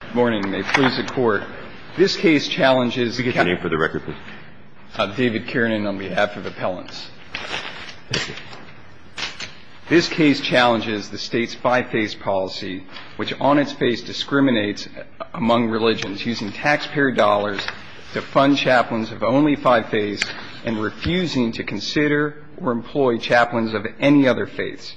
Good morning. May it please the Court, this case challenges... Could you give your name for the record, please? David Kiernan on behalf of Appellants. Thank you. This case challenges the state's five-phase policy, which on its face discriminates among religions, using taxpayer dollars to fund chaplains of only five faiths and refusing to consider or employ chaplains of any other faiths.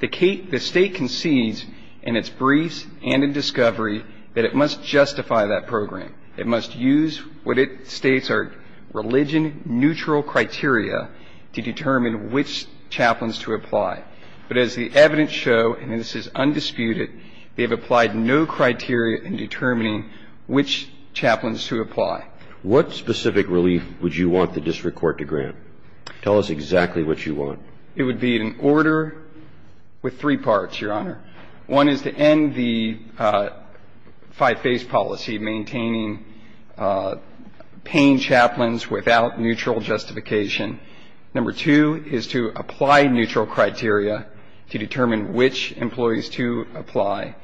The state concedes in its briefs and in discovery that it must justify that program. It must use what it states are religion-neutral criteria to determine which chaplains to apply. But as the evidence shows, and this is undisputed, they have applied no criteria in determining which chaplains to apply. What specific relief would you want the district court to grant? Tell us exactly what you want. It would be an order with three parts, Your Honor. One is to end the five-phase policy maintaining paying chaplains without neutral justification. Number two is to apply neutral criteria to determine which employees to apply.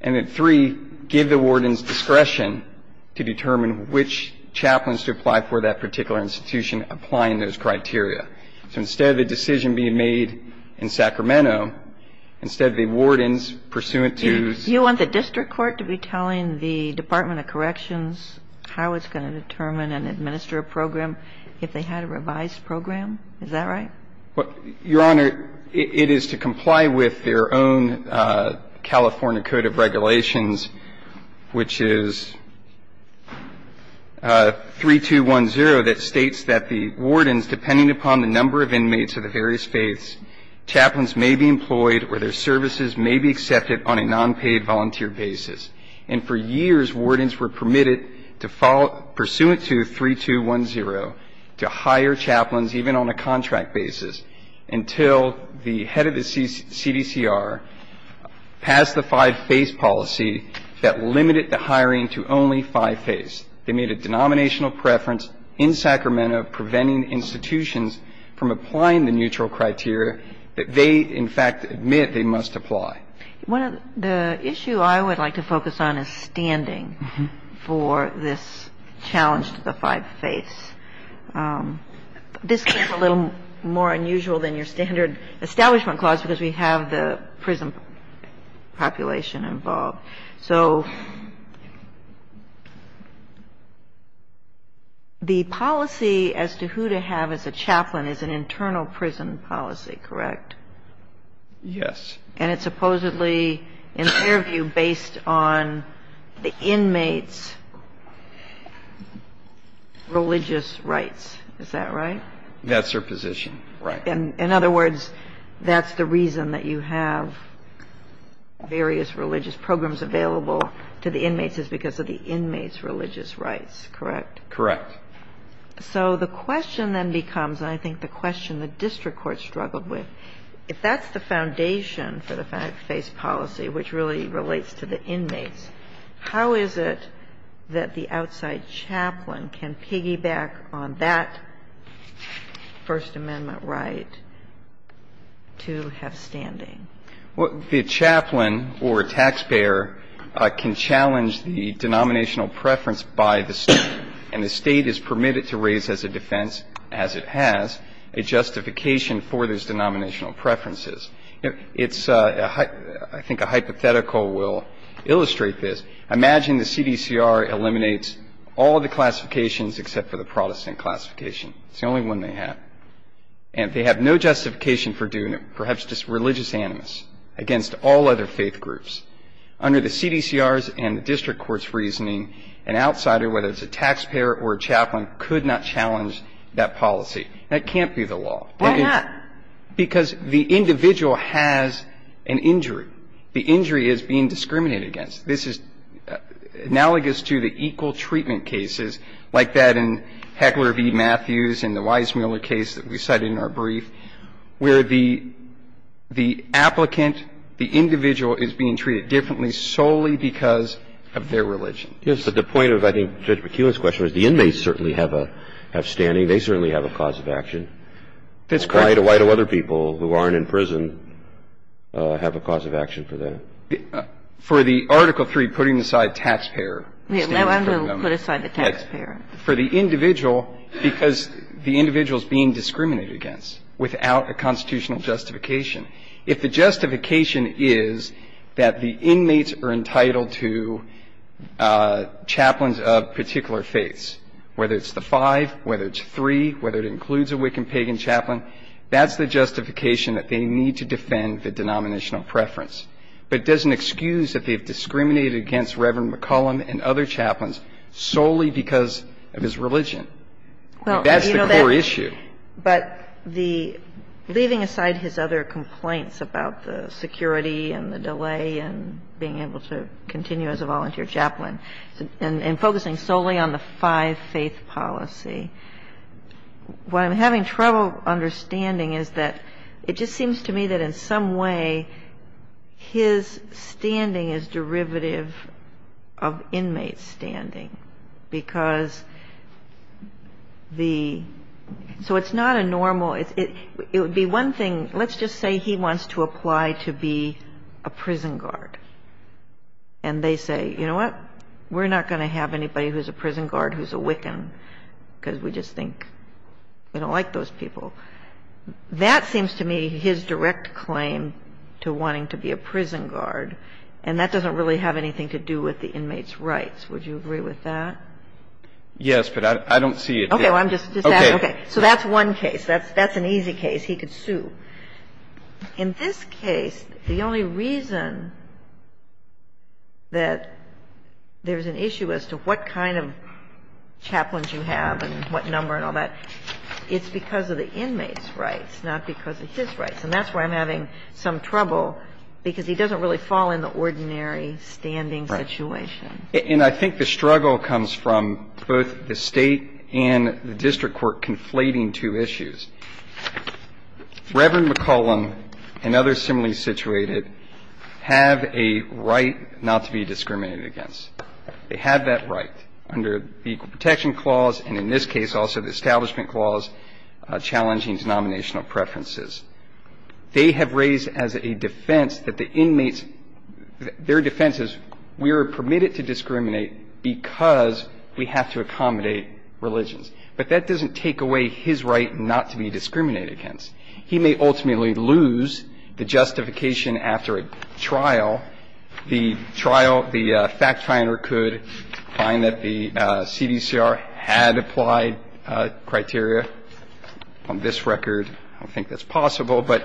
And then three, give the wardens discretion to determine which chaplains to apply for that particular institution applying those criteria. So instead of a decision being made in Sacramento, instead of the wardens pursuant to the district court to be telling the Department of Corrections how it's going to determine and administer a program if they had a revised program, is that right? Your Honor, it is to comply with their own California Code of Regulations, which is 3210, that states that the wardens, depending upon the number of inmates of the various faiths, chaplains may be employed or their services may be accepted on a nonpaid volunteer basis. And for years, wardens were permitted to follow, pursuant to 3210, to hire chaplains even on a contract basis until the head of the CDCR passed the five-phase policy that limited the hiring to only five faiths. They made a denominational preference in Sacramento preventing institutions from applying the neutral criteria that they, in fact, admit they must apply. One of the issues I would like to focus on is standing for this challenge to the five faiths. This is a little more unusual than your standard establishment clause because we have the prison population involved. So the policy as to who to have as a chaplain is an internal prison policy, correct? Yes. And it's supposedly, in their view, based on the inmates' religious rights, is that right? That's their position, right. In other words, that's the reason that you have various religious programs available to the inmates is because of the inmates' religious rights, correct? Correct. So the question then becomes, and I think the question the district court struggled with, if that's the foundation for the five-phase policy, which really relates to the inmates, how is it that the outside chaplain can piggyback on that First Amendment right to have standing? Well, the chaplain or taxpayer can challenge the denominational preference by the State, and the State is permitted to raise as a defense, as it has, a justification for those denominational preferences. I think a hypothetical will illustrate this. Imagine the CDCR eliminates all of the classifications except for the Protestant classification. It's the only one they have. And they have no justification for doing it, perhaps just religious animus, against all other faith groups. Under the CDCR's and the district court's reasoning, an outsider, whether it's a taxpayer or a chaplain, could not challenge that policy. That can't be the law. Why not? Because the individual has an injury. The injury is being discriminated against. This is analogous to the equal treatment cases like that in Heckler v. Matthews and the Weissmuller case that we cited in our brief, where the applicant, the individual is being treated differently solely because of their religion. Yes, but the point of, I think, Judge McKeown's question was the inmates certainly have a standing. They certainly have a cause of action. That's correct. Why do other people who aren't in prison have a cause of action for that? For the Article III, putting aside taxpayer standing for a moment. No, I'm going to put aside the taxpayer. For the individual, because the individual is being discriminated against without a constitutional justification. If the justification is that the inmates are entitled to chaplains of particular faiths, whether it's the five, whether it's three, whether it includes a Wiccan, a pagan chaplain, that's the justification that they need to defend the denominational preference. But it doesn't excuse that they've discriminated against Reverend McClellan and other chaplains solely because of his religion. That's the core issue. But the leaving aside his other complaints about the security and the delay and being able to continue as a volunteer chaplain and focusing solely on the five-faith policy, what I'm having trouble understanding is that it just seems to me that in some way his standing is derivative of inmates' standing, because the – so it's not a normal – it would be one thing – let's just say he wants to apply to be a prison guard, and they say, you know what, we're not going to have anybody who's a prison guard who's a Wiccan because we just think we don't like those people. That seems to me his direct claim to wanting to be a prison guard, and that doesn't really have anything to do with the inmates' rights. Would you agree with that? Yes, but I don't see it there. Okay. Well, I'm just asking. Okay. So that's one case. That's an easy case. He could sue. In this case, the only reason that there's an issue as to what kind of chaplains you have and what number and all that, it's because of the inmates' rights, not because of his rights. And that's why I'm having some trouble, because he doesn't really fall in the ordinary standing situation. Right. And I think the struggle comes from both the State and the district court conflating two issues. Reverend McCollum and others similarly situated have a right not to be discriminated against. They have that right under the Equal Protection Clause, and in this case also the Establishment Clause, challenging denominational preferences. They have raised as a defense that the inmates, their defense is we are permitted to discriminate because we have to accommodate religions. But that doesn't take away his right not to be discriminated against. He may ultimately lose the justification after a trial. The trial, the fact finder could find that the CDCR had applied criteria on this record. I don't think that's possible, but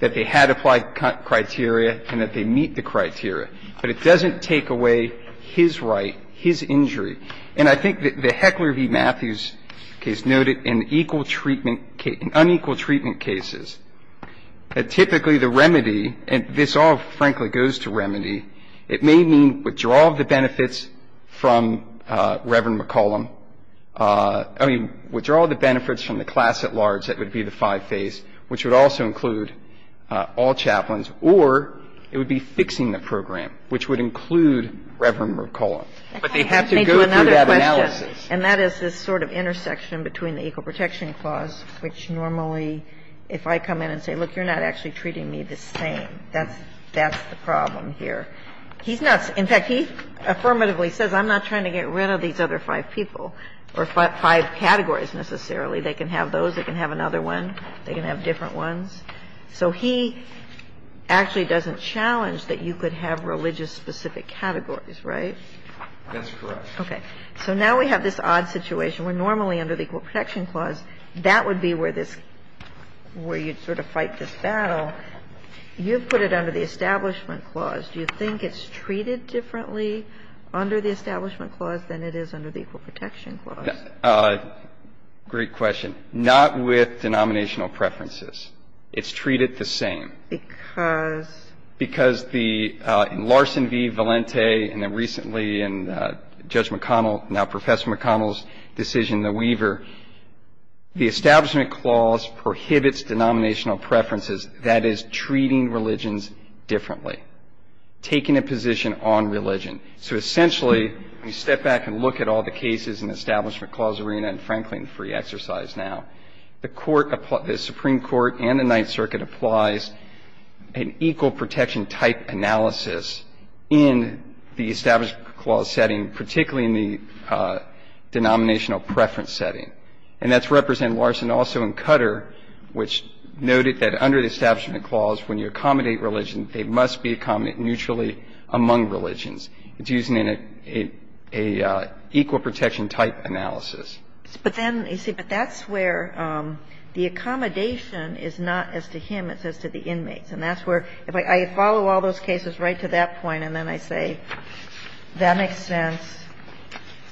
that they had applied criteria and that they meet the criteria. But it doesn't take away his right, his injury. And I think that the Heckler v. Matthews case noted an equal treatment case, unequal treatment cases, that typically the remedy, and this all frankly goes to remedy, it may mean withdrawal of the benefits from Reverend McCollum. I mean, withdrawal of the benefits from the class at large, that would be the five phase, which would also include all chaplains, or it would be fixing the program, which would include Reverend McCollum. But they have to go through that analysis. And that is this sort of intersection between the Equal Protection Clause, which normally, if I come in and say, look, you're not actually treating me the same, that's the problem here. He's not – in fact, he affirmatively says, I'm not trying to get rid of these other five people, or five categories necessarily. They can have those. They can have another one. They can have different ones. So he actually doesn't challenge that you could have religious-specific categories, right? That's correct. Okay. So now we have this odd situation. We're normally under the Equal Protection Clause. That would be where this – where you'd sort of fight this battle. You've put it under the Establishment Clause. Do you think it's treated differently under the Establishment Clause than it is under the Equal Protection Clause? Great question. Not with denominational preferences. It's treated the same. Because? Because the – in Larson v. Valente, and then recently in Judge McConnell, now Professor McConnell's decision, the Weaver, the Establishment Clause prohibits denominational preferences. That is treating religions differently, taking a position on religion. So essentially, when you step back and look at all the cases in the Establishment Clause arena, and frankly in free exercise now, the Supreme Court and the Ninth Circuit have used an equal protection type analysis in the Establishment Clause setting, particularly in the denominational preference setting. And that's represented, Larson, also in Cutter, which noted that under the Establishment Clause, when you accommodate religion, they must be accommodated neutrally among religions. It's used in an equal protection type analysis. But then, you see, but that's where the accommodation is not as to him. It's as to the inmates. And that's where, if I follow all those cases right to that point, and then I say, that makes sense.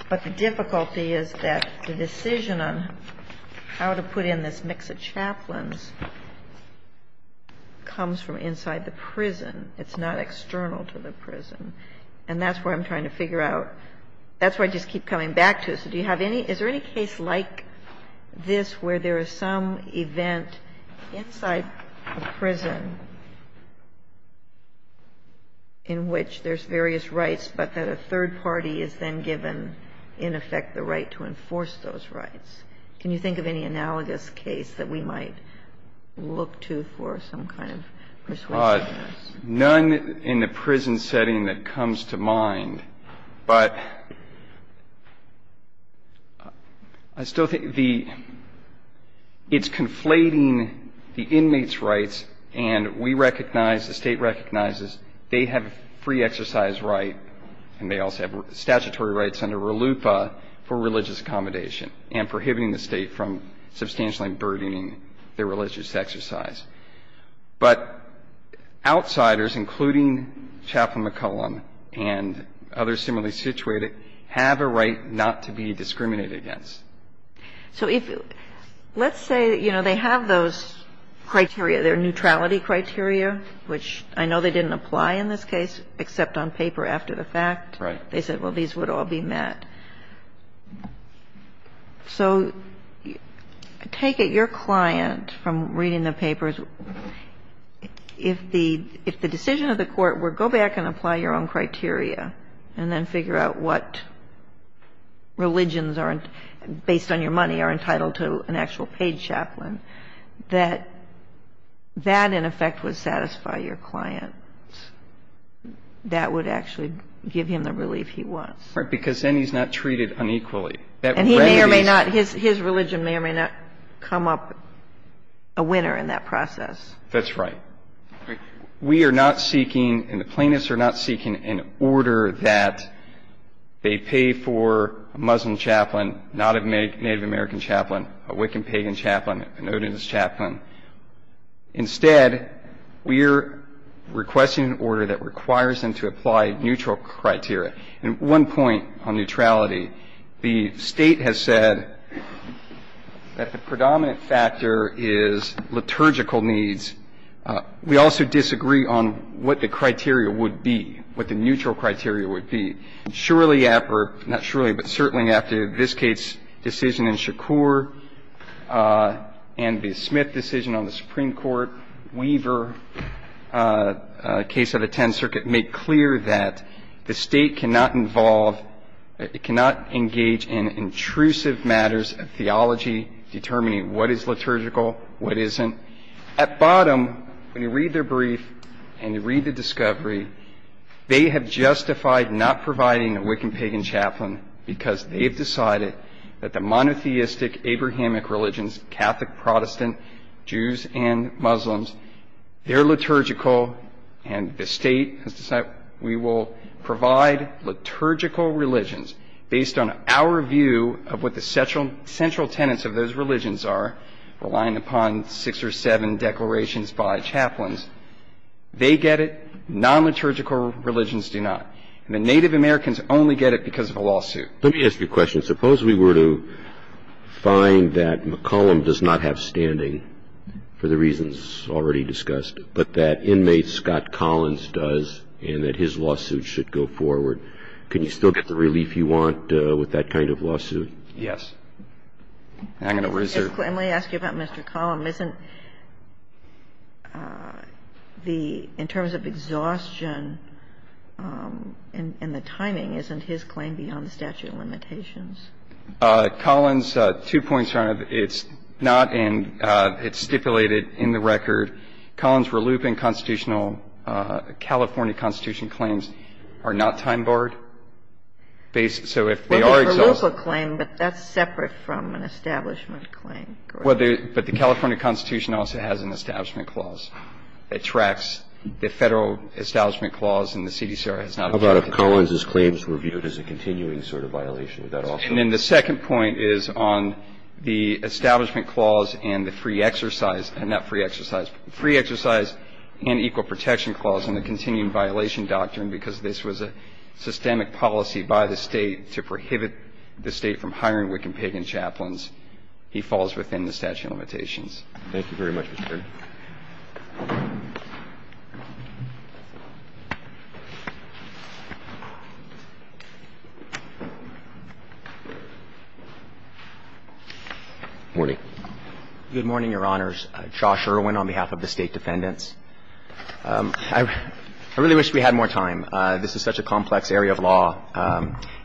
But the difficulty is that the decision on how to put in this mix of chaplains comes from inside the prison. It's not external to the prison. And that's where I'm trying to figure out. That's where I just keep coming back to. Kagan. I'm just curious. Do you have any – is there any case like this where there is some event inside a prison in which there's various rights, but that a third party is then given, in effect, the right to enforce those rights? Can you think of any analogous case that we might look to for some kind of persuasion in this? None in the prison setting that comes to mind. But I still think the – it's conflating the inmates' rights, and we recognize, the State recognizes, they have a free exercise right, and they also have statutory rights under RLUIPA for religious accommodation and prohibiting the State from substantially burdening their religious exercise. But outsiders, including Chaplain McCollum and others similarly situated, have a right not to be discriminated against. So if – let's say, you know, they have those criteria, their neutrality criteria, which I know they didn't apply in this case, except on paper after the fact. Right. They said, well, these would all be met. So take it, your client, from reading the papers, if the decision of the court were go back and apply your own criteria and then figure out what religions are – based on your money, are entitled to an actual paid chaplain, that that, in effect, would satisfy your client. That would actually give him the relief he wants. Right. Because then he's not treated unequally. And he may or may not – his religion may or may not come up a winner in that process. That's right. We are not seeking, and the plaintiffs are not seeking an order that they pay for a Muslim chaplain, not a Native American chaplain, a Wiccan pagan chaplain, an Odinus chaplain. Instead, we're requesting an order that requires them to apply neutral criteria. And one point on neutrality, the State has said that the predominant factor is liturgical needs. We also disagree on what the criteria would be, what the neutral criteria would be. Surely after – not surely, but certainly after this case decision in Shakur and the decision on the Supreme Court, Weaver, case of the 10th Circuit, made clear that the State cannot involve – it cannot engage in intrusive matters of theology determining what is liturgical, what isn't. At bottom, when you read their brief and you read the discovery, they have justified not providing a Wiccan pagan chaplain because they've decided that the monotheistic Abrahamic religions, Catholic, Protestant, Jews, and Muslims, they're liturgical. And the State has decided we will provide liturgical religions based on our view of what the central tenets of those religions are, relying upon six or seven declarations by chaplains. They get it. Non-liturgical religions do not. And the Native Americans only get it because of a lawsuit. Let me ask you a question. Suppose we were to find that McCollum does not have standing for the reasons already discussed, but that inmate Scott Collins does, and that his lawsuit should go forward. Can you still get the relief you want with that kind of lawsuit? Yes. I'm going to reserve. Let me ask you about Mr. Collins. Isn't the – in terms of exhaustion and the timing, isn't his claim beyond the statute of limitations? Collins, two points, Your Honor. It's not in – it's stipulated in the record. Collins' reluptant constitutional California Constitution claims are not time-barred. So if they are exhausted – Well, they're a reluptant claim, but that's separate from an establishment claim, correct? Well, but the California Constitution also has an establishment clause. It tracks the Federal establishment clause, and the CDCR has not – How about if Collins' claims were viewed as a continuing sort of violation? Would that also be? And then the second point is on the establishment clause and the free exercise – not free exercise – free exercise and equal protection clause and the continuing violation doctrine, because this was a systemic policy by the State to prohibit the State from hiring Wiccan pagan chaplains. He falls within the statute of limitations. Thank you very much, Mr. Kirby. Good morning, Your Honors. Josh Irwin on behalf of the State defendants. I really wish we had more time. This is such a complex area of law,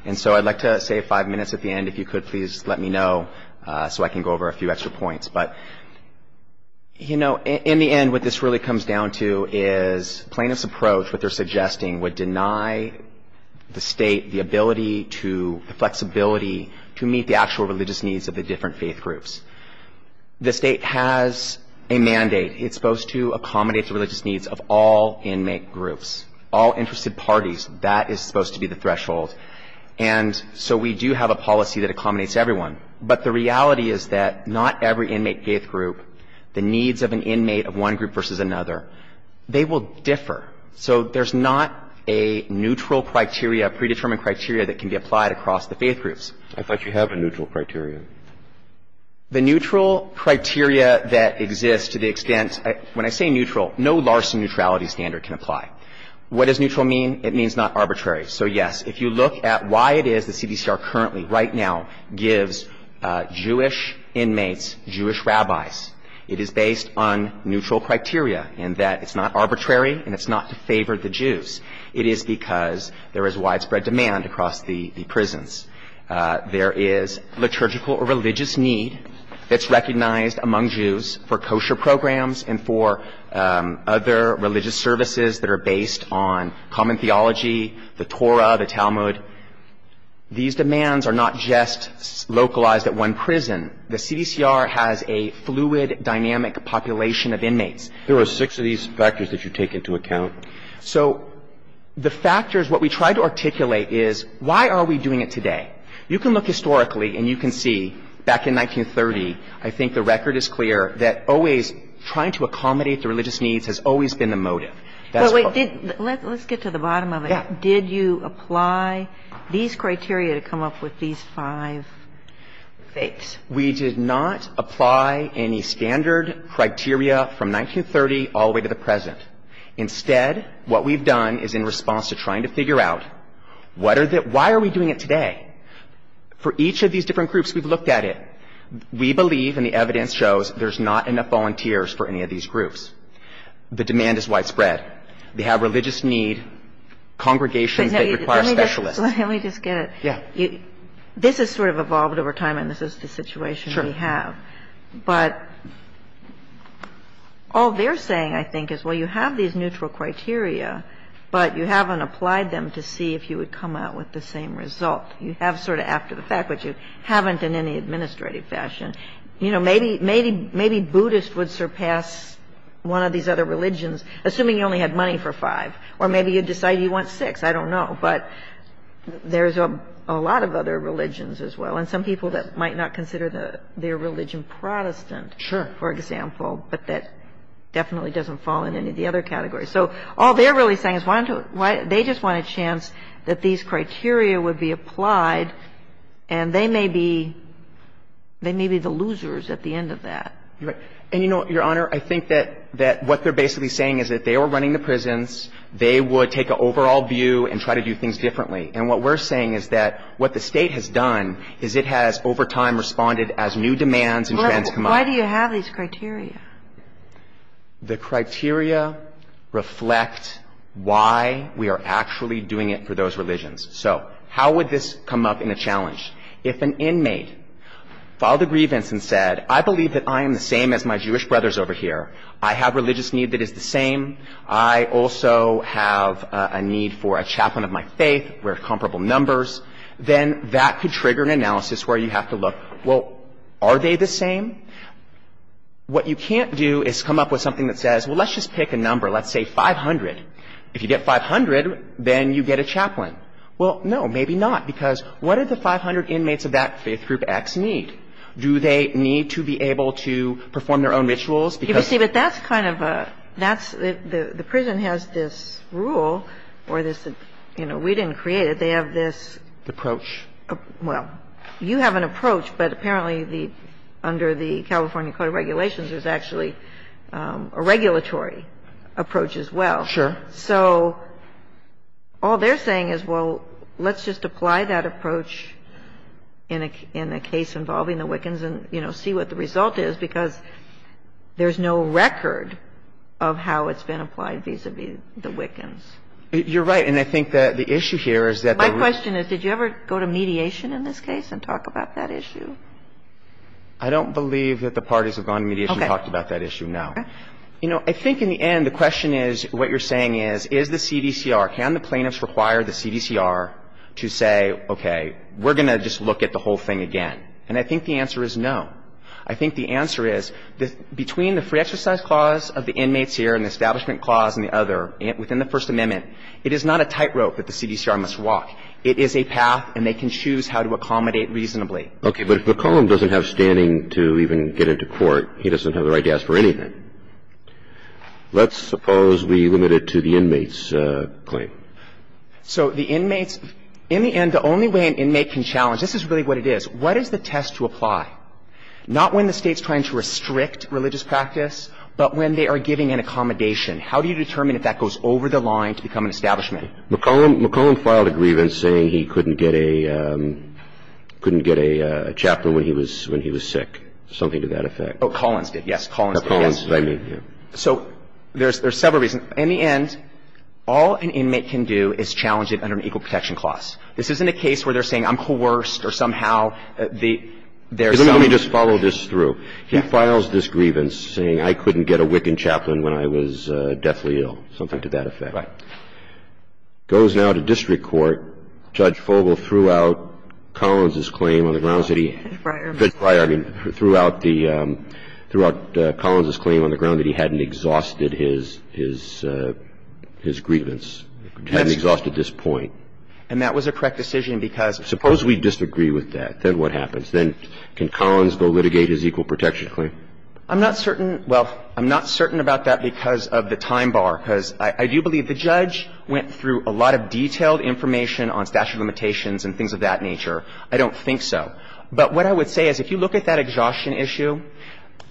and so I'd like to save five minutes at the end if you could please let me know so I can go over a few extra points. But, you know, in the end, what this really comes down to is plaintiff's approach, what they're suggesting, would deny the State the ability to – the flexibility to meet the actual religious needs of the different faith groups. The State has a mandate. It's supposed to accommodate the religious needs of all inmate groups, all interested parties. That is supposed to be the threshold. And so we do have a policy that accommodates everyone. But the reality is that not every inmate faith group, the needs of an inmate of one group versus another, they will differ. So there's not a neutral criteria, predetermined criteria that can be applied across the faith groups. I thought you have a neutral criteria. The neutral criteria that exists to the extent – when I say neutral, no Larson neutrality standard can apply. What does neutral mean? It means not arbitrary. So, yes, if you look at why it is the CDCR currently, right now, gives Jewish inmates Jewish rabbis, it is based on neutral criteria in that it's not arbitrary and it's not to favor the Jews. It is because there is widespread demand across the prisons. There is liturgical or religious need that's recognized among Jews for kosher programs and for other religious services that are based on common theology, the Torah, the Talmud. These demands are not just localized at one prison. The CDCR has a fluid, dynamic population of inmates. There are six of these factors that you take into account. So the factors, what we try to articulate is why are we doing it today? You can look historically and you can see back in 1930, I think the record is clear that always trying to accommodate the religious needs has always been the motive. That's what we did. Let's get to the bottom of it. Yeah. Did you apply these criteria to come up with these five fakes? We did not apply any standard criteria from 1930 all the way to the present. Instead, what we've done is in response to trying to figure out what are the – why are we doing it today? For each of these different groups, we've looked at it. We believe, and the evidence shows, there's not enough volunteers for any of these groups. The demand is widespread. They have religious need, congregations that require specialists. Let me just get it. Yeah. This has sort of evolved over time and this is the situation we have. Sure. But all they're saying, I think, is, well, you have these neutral criteria, but you haven't applied them to see if you would come out with the same result. You have sort of after-the-fact, but you haven't in any administrative fashion. You know, maybe – maybe Buddhist would surpass one of these other religions, assuming you only had money for five. Or maybe you'd decide you want six. I don't know. But there's a lot of other religions as well and some people that might not consider their religion Protestant, for example, but that definitely doesn't fall in any of the other categories. So all they're really saying is they just want a chance that these criteria would be applied and they may be – they may be the losers at the end of that. Right. And, you know, Your Honor, I think that what they're basically saying is that if they were running the prisons, they would take an overall view and try to do things differently. And what we're saying is that what the State has done is it has over time responded as new demands and demands come up. Why do you have these criteria? The criteria reflect why we are actually doing it for those religions. So how would this come up in a challenge? If an inmate filed a grievance and said, I believe that I am the same as my Jewish brothers over here. I have religious need that is the same. I also have a need for a chaplain of my faith. We're comparable numbers. Then that could trigger an analysis where you have to look, well, are they the same? What you can't do is come up with something that says, well, let's just pick a number. Let's say 500. If you get 500, then you get a chaplain. Well, no, maybe not, because what do the 500 inmates of that faith group X need? Do they need to be able to perform their own rituals? You see, but that's kind of a – that's – the prison has this rule or this – you know, we didn't create it. They have this – Approach. Well, you have an approach, but apparently the – under the California Code of Regulations there's actually a regulatory approach as well. Sure. So all they're saying is, well, let's just apply that approach in a case involving the Wiccans and, you know, see what the result is, because there's no record of how it's been applied vis-a-vis the Wiccans. You're right. And I think that the issue here is that the – My question is, did you ever go to mediation in this case and talk about that issue? I don't believe that the parties have gone to mediation and talked about that issue, no. Okay. You know, I think in the end the question is – what you're saying is, is the CDCR – can the plaintiffs require the CDCR to say, okay, we're going to just look at the whole thing again? And I think the answer is no. I think the answer is between the free exercise clause of the inmates here and the establishment clause and the other within the First Amendment, it is not a tightrope that the CDCR must walk. It is a path, and they can choose how to accommodate reasonably. Okay. But if McCollum doesn't have standing to even get into court, he doesn't have the right to ask for anything. Let's suppose we limit it to the inmates' claim. So the inmates – in the end, the only way an inmate can challenge – this is really what it is. What is the test to apply? Not when the State's trying to restrict religious practice, but when they are giving an accommodation. How do you determine if that goes over the line to become an establishment? McCollum filed a grievance saying he couldn't get a chaplain when he was sick, something to that effect. Oh, Collins did, yes. Collins did, yes. Collins, that's what I mean, yes. So there's several reasons. In the end, all an inmate can do is challenge it under an equal protection clause. This isn't a case where they're saying I'm coerced or somehow there's some – Let me just follow this through. He files this grievance saying I couldn't get a Wiccan chaplain when I was deathly ill, something to that effect. Right. Now, this goes now to district court. Judge Fogle threw out Collins' claim on the grounds that he – Friar. Friar. I mean, threw out the – threw out Collins' claim on the ground that he hadn't exhausted his – his grievance, hadn't exhausted this point. And that was a correct decision because – Suppose we disagree with that. Then what happens? Then can Collins go litigate his equal protection claim? I'm not certain – well, I'm not certain about that because of the time bar, because I do believe the judge went through a lot of detailed information on statute limitations and things of that nature. I don't think so. But what I would say is if you look at that exhaustion issue,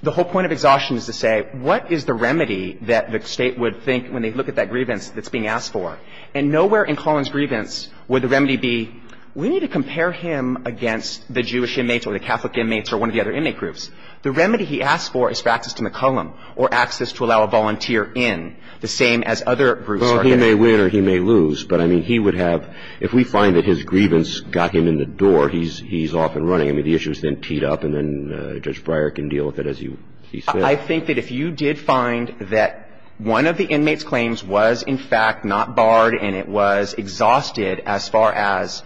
the whole point of exhaustion is to say what is the remedy that the State would think when they look at that grievance that's being asked for. And nowhere in Collins' grievance would the remedy be we need to compare him against the Jewish inmates or the Catholic inmates or one of the other inmate groups. The remedy he asked for is for access to McCullum or access to allow a volunteer in, the same as other groups are getting. Well, he may win or he may lose. But, I mean, he would have – if we find that his grievance got him in the door, he's – he's off and running. I mean, the issue is then teed up and then Judge Breyer can deal with it as he – he said. I think that if you did find that one of the inmates' claims was, in fact, not barred and it was exhausted as far as,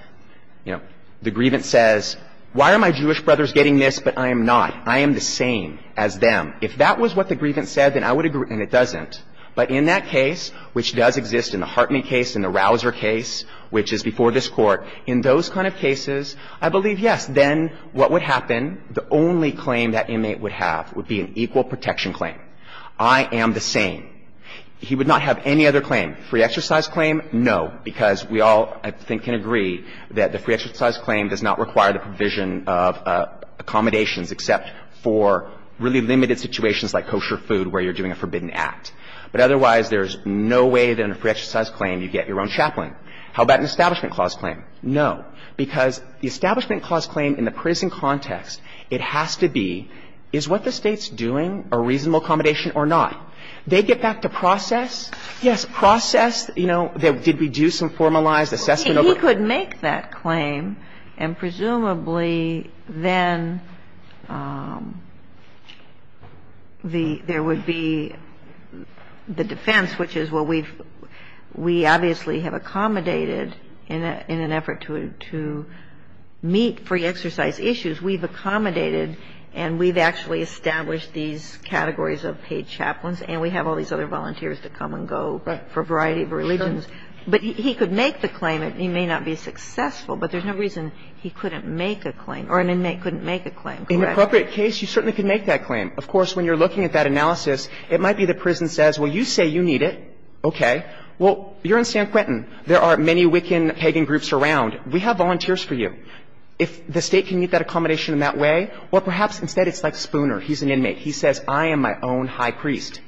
you know, the grievance says, why are my Jewish brothers getting this, but I am not? I am the same as them. And if that was what the grievance said, then I would agree – and it doesn't. But in that case, which does exist in the Hartnett case and the Rauser case, which is before this Court, in those kind of cases, I believe, yes, then what would happen? The only claim that inmate would have would be an equal protection claim. I am the same. He would not have any other claim. Free exercise claim, no, because we all, I think, can agree that the free exercise claim does not require the provision of accommodations except for really limited situations like kosher food where you're doing a forbidden act. But otherwise, there's no way that in a free exercise claim you get your own chaplain. How about an Establishment Clause claim? No. Because the Establishment Clause claim in the prison context, it has to be, is what the State's doing a reasonable accommodation or not? They get back to process. Yes, process, you know, did we do some formalized assessment? But he could make that claim and presumably then there would be the defense, which is, well, we obviously have accommodated in an effort to meet free exercise issues, we've accommodated and we've actually established these categories of paid chaplains and we have all these other volunteers to come and go for a variety of reasons. But he could make the claim. He may not be successful, but there's no reason he couldn't make a claim or an inmate couldn't make a claim, correct? In an appropriate case, you certainly could make that claim. Of course, when you're looking at that analysis, it might be the prison says, well, you say you need it, okay. Well, you're in San Quentin. There are many Wiccan pagan groups around. We have volunteers for you. If the State can meet that accommodation in that way, or perhaps instead it's like Spooner, he's an inmate. He says, I am my own high priest.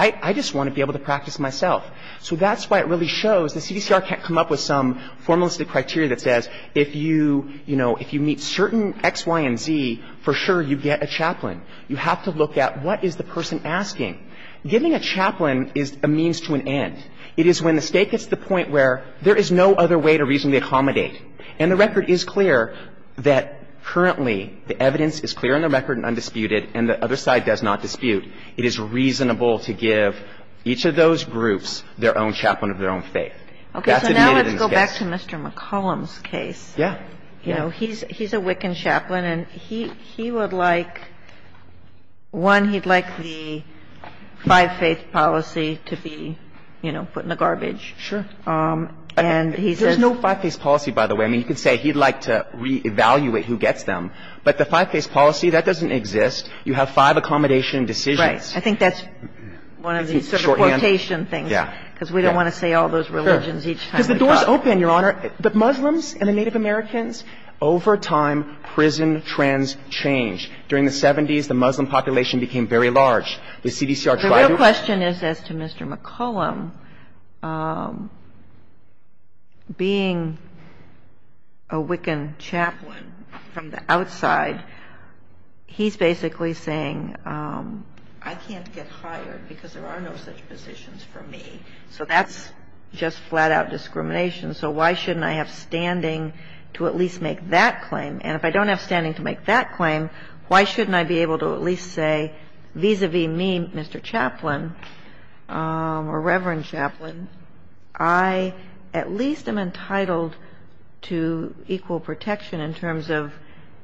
I just want to be able to practice myself. So that's why it really shows the CDCR can't come up with some formalistic criteria that says if you, you know, if you meet certain X, Y, and Z, for sure you get a chaplain. You have to look at what is the person asking. Giving a chaplain is a means to an end. It is when the State gets to the point where there is no other way to reasonably accommodate. And the record is clear that currently the evidence is clear in the record and undisputed and the other side does not dispute. It is reasonable to give each of those groups their own chaplain of their own faith. That's admitted in this case. Okay. So now let's go back to Mr. McCollum's case. Yeah. You know, he's a Wiccan chaplain, and he would like, one, he'd like the five-faith policy to be, you know, put in the garbage. Sure. And he says – There's no five-faith policy, by the way. I mean, you could say he'd like to reevaluate who gets them. But the five-faith policy, that doesn't exist. You have five accommodation decisions. Right. I think that's one of these sort of quotation things. Yeah. Because we don't want to say all those religions each time we talk. Because the doors open, Your Honor. The Muslims and the Native Americans, over time, prison trends change. During the 70s, the Muslim population became very large. The CDCR tried to – The real question is as to Mr. McCollum, being a Wiccan chaplain from the outside, he's basically saying, I can't get hired because there are no such positions for me. So that's just flat-out discrimination. So why shouldn't I have standing to at least make that claim? And if I don't have standing to make that claim, why shouldn't I be able to at least say, vis-à-vis me, Mr. Chaplain, or Reverend Chaplain, I at least am entitled to equal protection in terms of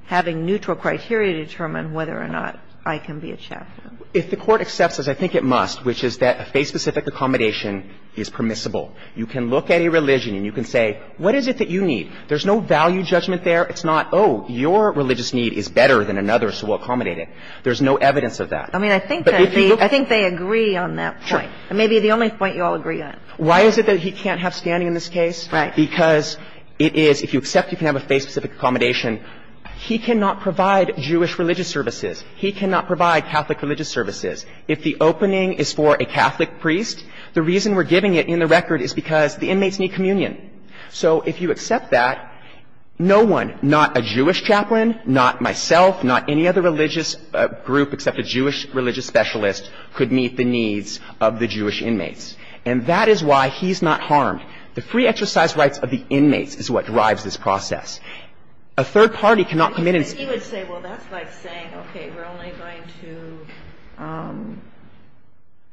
having neutral criteria determine whether or not I can be a chaplain. If the Court accepts it, I think it must, which is that a faith-specific accommodation is permissible. You can look at a religion and you can say, what is it that you need? There's no value judgment there. It's not, oh, your religious need is better than another, so we'll accommodate it. There's no evidence of that. I mean, I think they agree on that point. Sure. It may be the only point you all agree on. Why is it that he can't have standing in this case? Because it is, if you accept you can have a faith-specific accommodation, he cannot provide Jewish religious services. He cannot provide Catholic religious services. If the opening is for a Catholic priest, the reason we're giving it in the record is because the inmates need communion. So if you accept that, no one, not a Jewish chaplain, not myself, not any other religious group except a Jewish religious specialist, could meet the needs of the Jewish inmates. And that is why he's not harmed. The free exercise rights of the inmates is what drives this process. A third party cannot come in and say this. He would say, well, that's like saying, okay, we're only going to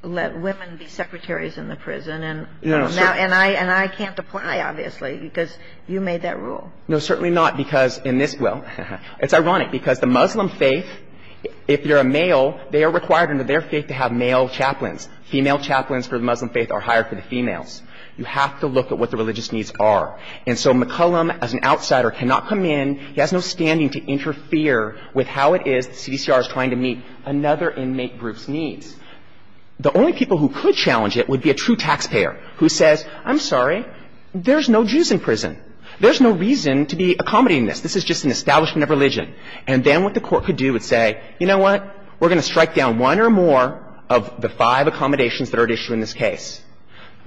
let women be secretaries in the prison. And I can't apply, obviously, because you made that rule. No, certainly not, because in this, well, it's ironic, because the Muslim faith, if you're a male, they are required under their faith to have male chaplains. Female chaplains for the Muslim faith are hired for the females. You have to look at what the religious needs are. And so McCollum, as an outsider, cannot come in. He has no standing to interfere with how it is the CDCR is trying to meet another inmate group's needs. The only people who could challenge it would be a true taxpayer who says, I'm sorry, there's no Jews in prison. There's no reason to be accommodating this. This is just an establishment of religion. And then what the Court could do is say, you know what, we're going to strike down one or more of the five accommodations that are at issue in this case.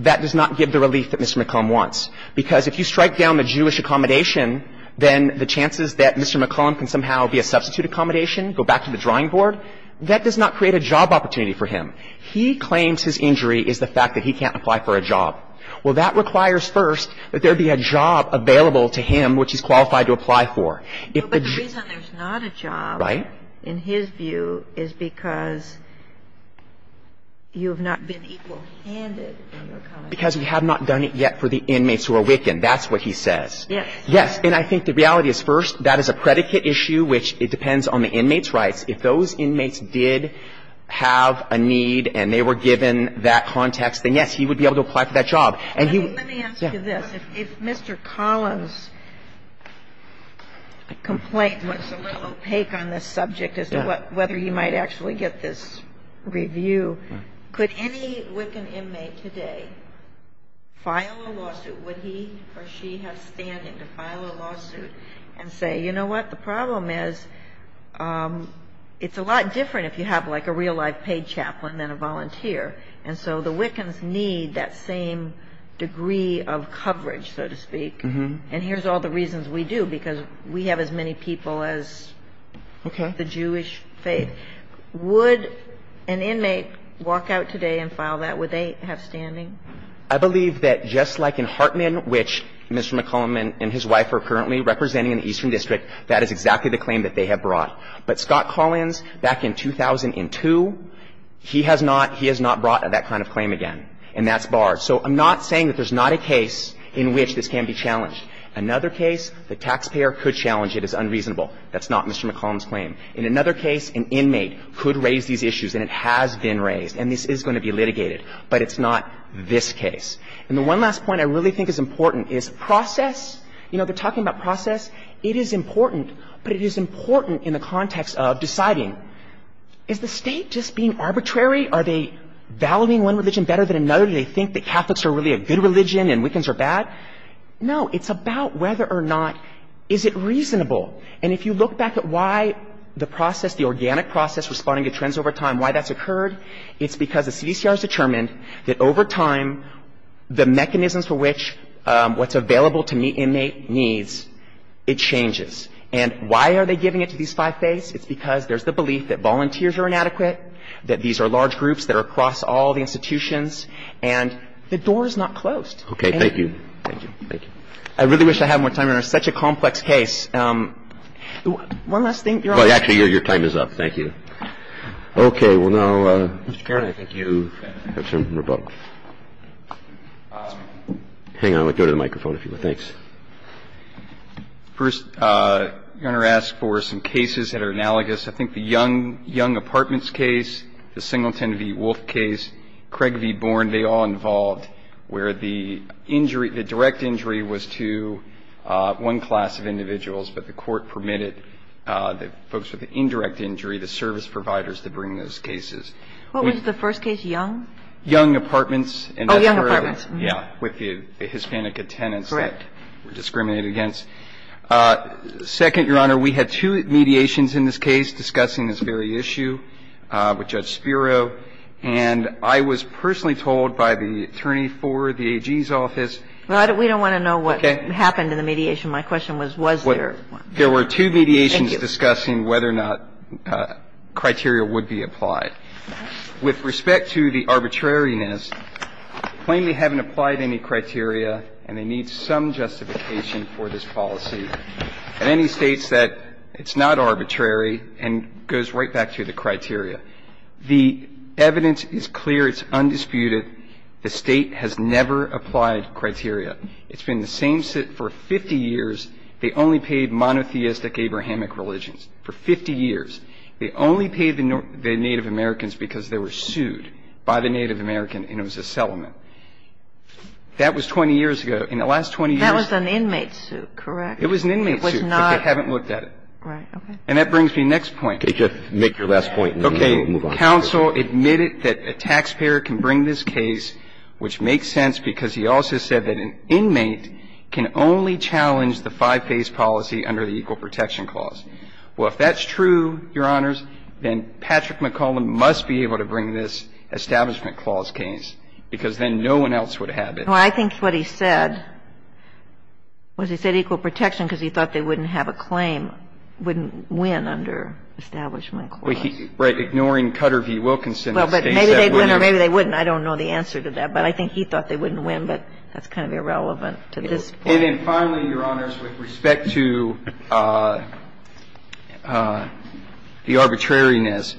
That does not give the relief that Mr. McCollum wants. Because if you strike down the Jewish accommodation, then the chances that Mr. McCollum can somehow be a substitute accommodation, go back to the drawing board, that does not create a job opportunity for him. He claims his injury is the fact that he can't apply for a job. Well, that requires first that there be a job available to him which he's qualified to apply for. If the Jews are not a job. Right. But in his view, is because you have not been equal handed in your comment. Because we have not done it yet for the inmates who are weakened. That's what he says. Yes. Yes. And I think the reality is, first, that is a predicate issue which it depends on the inmate's rights. If those inmates did have a need and they were given that context, then yes, he would be able to apply for that job. And let me ask you this. If Mr. Collins' complaint was a little opaque on this subject as to whether he might actually get this review, could any Wiccan inmate today file a lawsuit? Would he or she have standing to file a lawsuit and say, you know what, the problem is it's a lot different if you have like a real-life paid chaplain than a volunteer. And so the Wiccans need that same degree of coverage, so to speak. And here's all the reasons we do, because we have as many people as the Jewish faith. Okay. Would an inmate walk out today and file that? Would they have standing? I believe that just like in Hartman, which Mr. McClellan and his wife are currently representing in the Eastern District, that is exactly the claim that they have brought. But Scott Collins, back in 2002, he has not – he has not brought that kind of claim again, and that's barred. So I'm not saying that there's not a case in which this can be challenged. Another case, the taxpayer could challenge it as unreasonable. That's not Mr. McClellan's claim. In another case, an inmate could raise these issues, and it has been raised, and this is going to be litigated. But it's not this case. And the one last point I really think is important is process. You know, they're talking about process. It is important, but it is important in the context of deciding. Is the state just being arbitrary? Are they valuing one religion better than another? Do they think that Catholics are really a good religion and Wiccans are bad? No. It's about whether or not is it reasonable. And if you look back at why the process, the organic process responding to trends over time, why that's occurred, it's because the CDCR has determined that over time, the It changes. And why are they giving it to these five faiths? It's because there's the belief that volunteers are inadequate, that these are large groups that are across all the institutions, and the door is not closed. Okay. Thank you. Thank you. Thank you. I really wish I had more time. It's such a complex case. One last thing. Actually, your time is up. Thank you. Okay. Well, now, Mr. Caron, I think you have some remote. Hang on. I'll go to the microphone if you would. Thanks. First, I'm going to ask for some cases that are analogous. I think the Young Apartments case, the Singleton v. Wolfe case, Craig v. Bourne, they all involved where the injury, the direct injury was to one class of individuals, but the court permitted the folks with the indirect injury, the service providers, to bring those cases. What was the first case? Young? Young Apartments. Oh, Young Apartments. Yeah. With the Hispanic attendants. Correct. Discriminated against. Second, Your Honor, we had two mediations in this case discussing this very issue with Judge Spiro, and I was personally told by the attorney for the AG's office. Well, we don't want to know what happened in the mediation. My question was, was there? There were two mediations discussing whether or not criteria would be applied. With respect to the arbitrariness, plainly haven't applied any criteria, and they need some justification for this policy. And then he states that it's not arbitrary and goes right back to the criteria. The evidence is clear. It's undisputed. The State has never applied criteria. It's been the same for 50 years. They only paid monotheistic Abrahamic religions for 50 years. They only paid the Native Americans because they were sued by the Native American, and it was a settlement. That was 20 years ago. In the last 20 years. That was an inmate suit, correct? It was an inmate suit, but they haven't looked at it. Right, okay. And that brings me to the next point. Okay. Just make your last point, and then we'll move on. Okay. Counsel admitted that a taxpayer can bring this case, which makes sense because he also said that an inmate can only challenge the five-phase policy under the Equal Protection Clause. Well, if that's true, Your Honors, then Patrick McClellan must be able to bring this Establishment Clause case because then no one else would have it. Well, I think what he said was he said Equal Protection because he thought they wouldn't have a claim, wouldn't win under Establishment Clause. Right. Ignoring Cutter v. Wilkinson. Well, but maybe they'd win or maybe they wouldn't. I don't know the answer to that. But I think he thought they wouldn't win, but that's kind of irrelevant to this point. And then finally, Your Honors, with respect to the arbitrariness,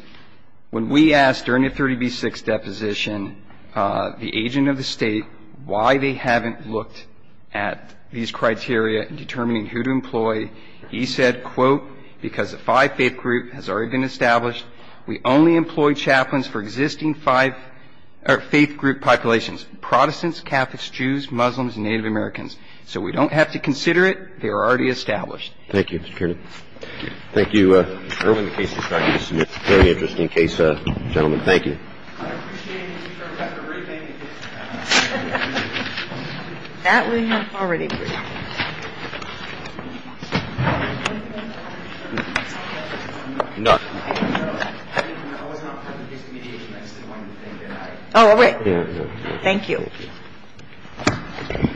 when we asked during the 30b-6 deposition the agent of the State why they haven't looked at these criteria in determining who to employ, he said, quote, because the five-faith group has already been established. We only employ chaplains for existing five-faith group populations, Protestants, Catholics, Jews, Muslims, and Native Americans. So we don't have to consider it. They are already established. Thank you, Mr. Kiernan. Thank you. Thank you, Irwin. The case is ready to submit. Very interesting case, gentlemen. Thank you. I appreciate it, Mr. Kiernan, for briefing. That we have already briefed. Oh, wait. Thank you. Thank you. Thank you.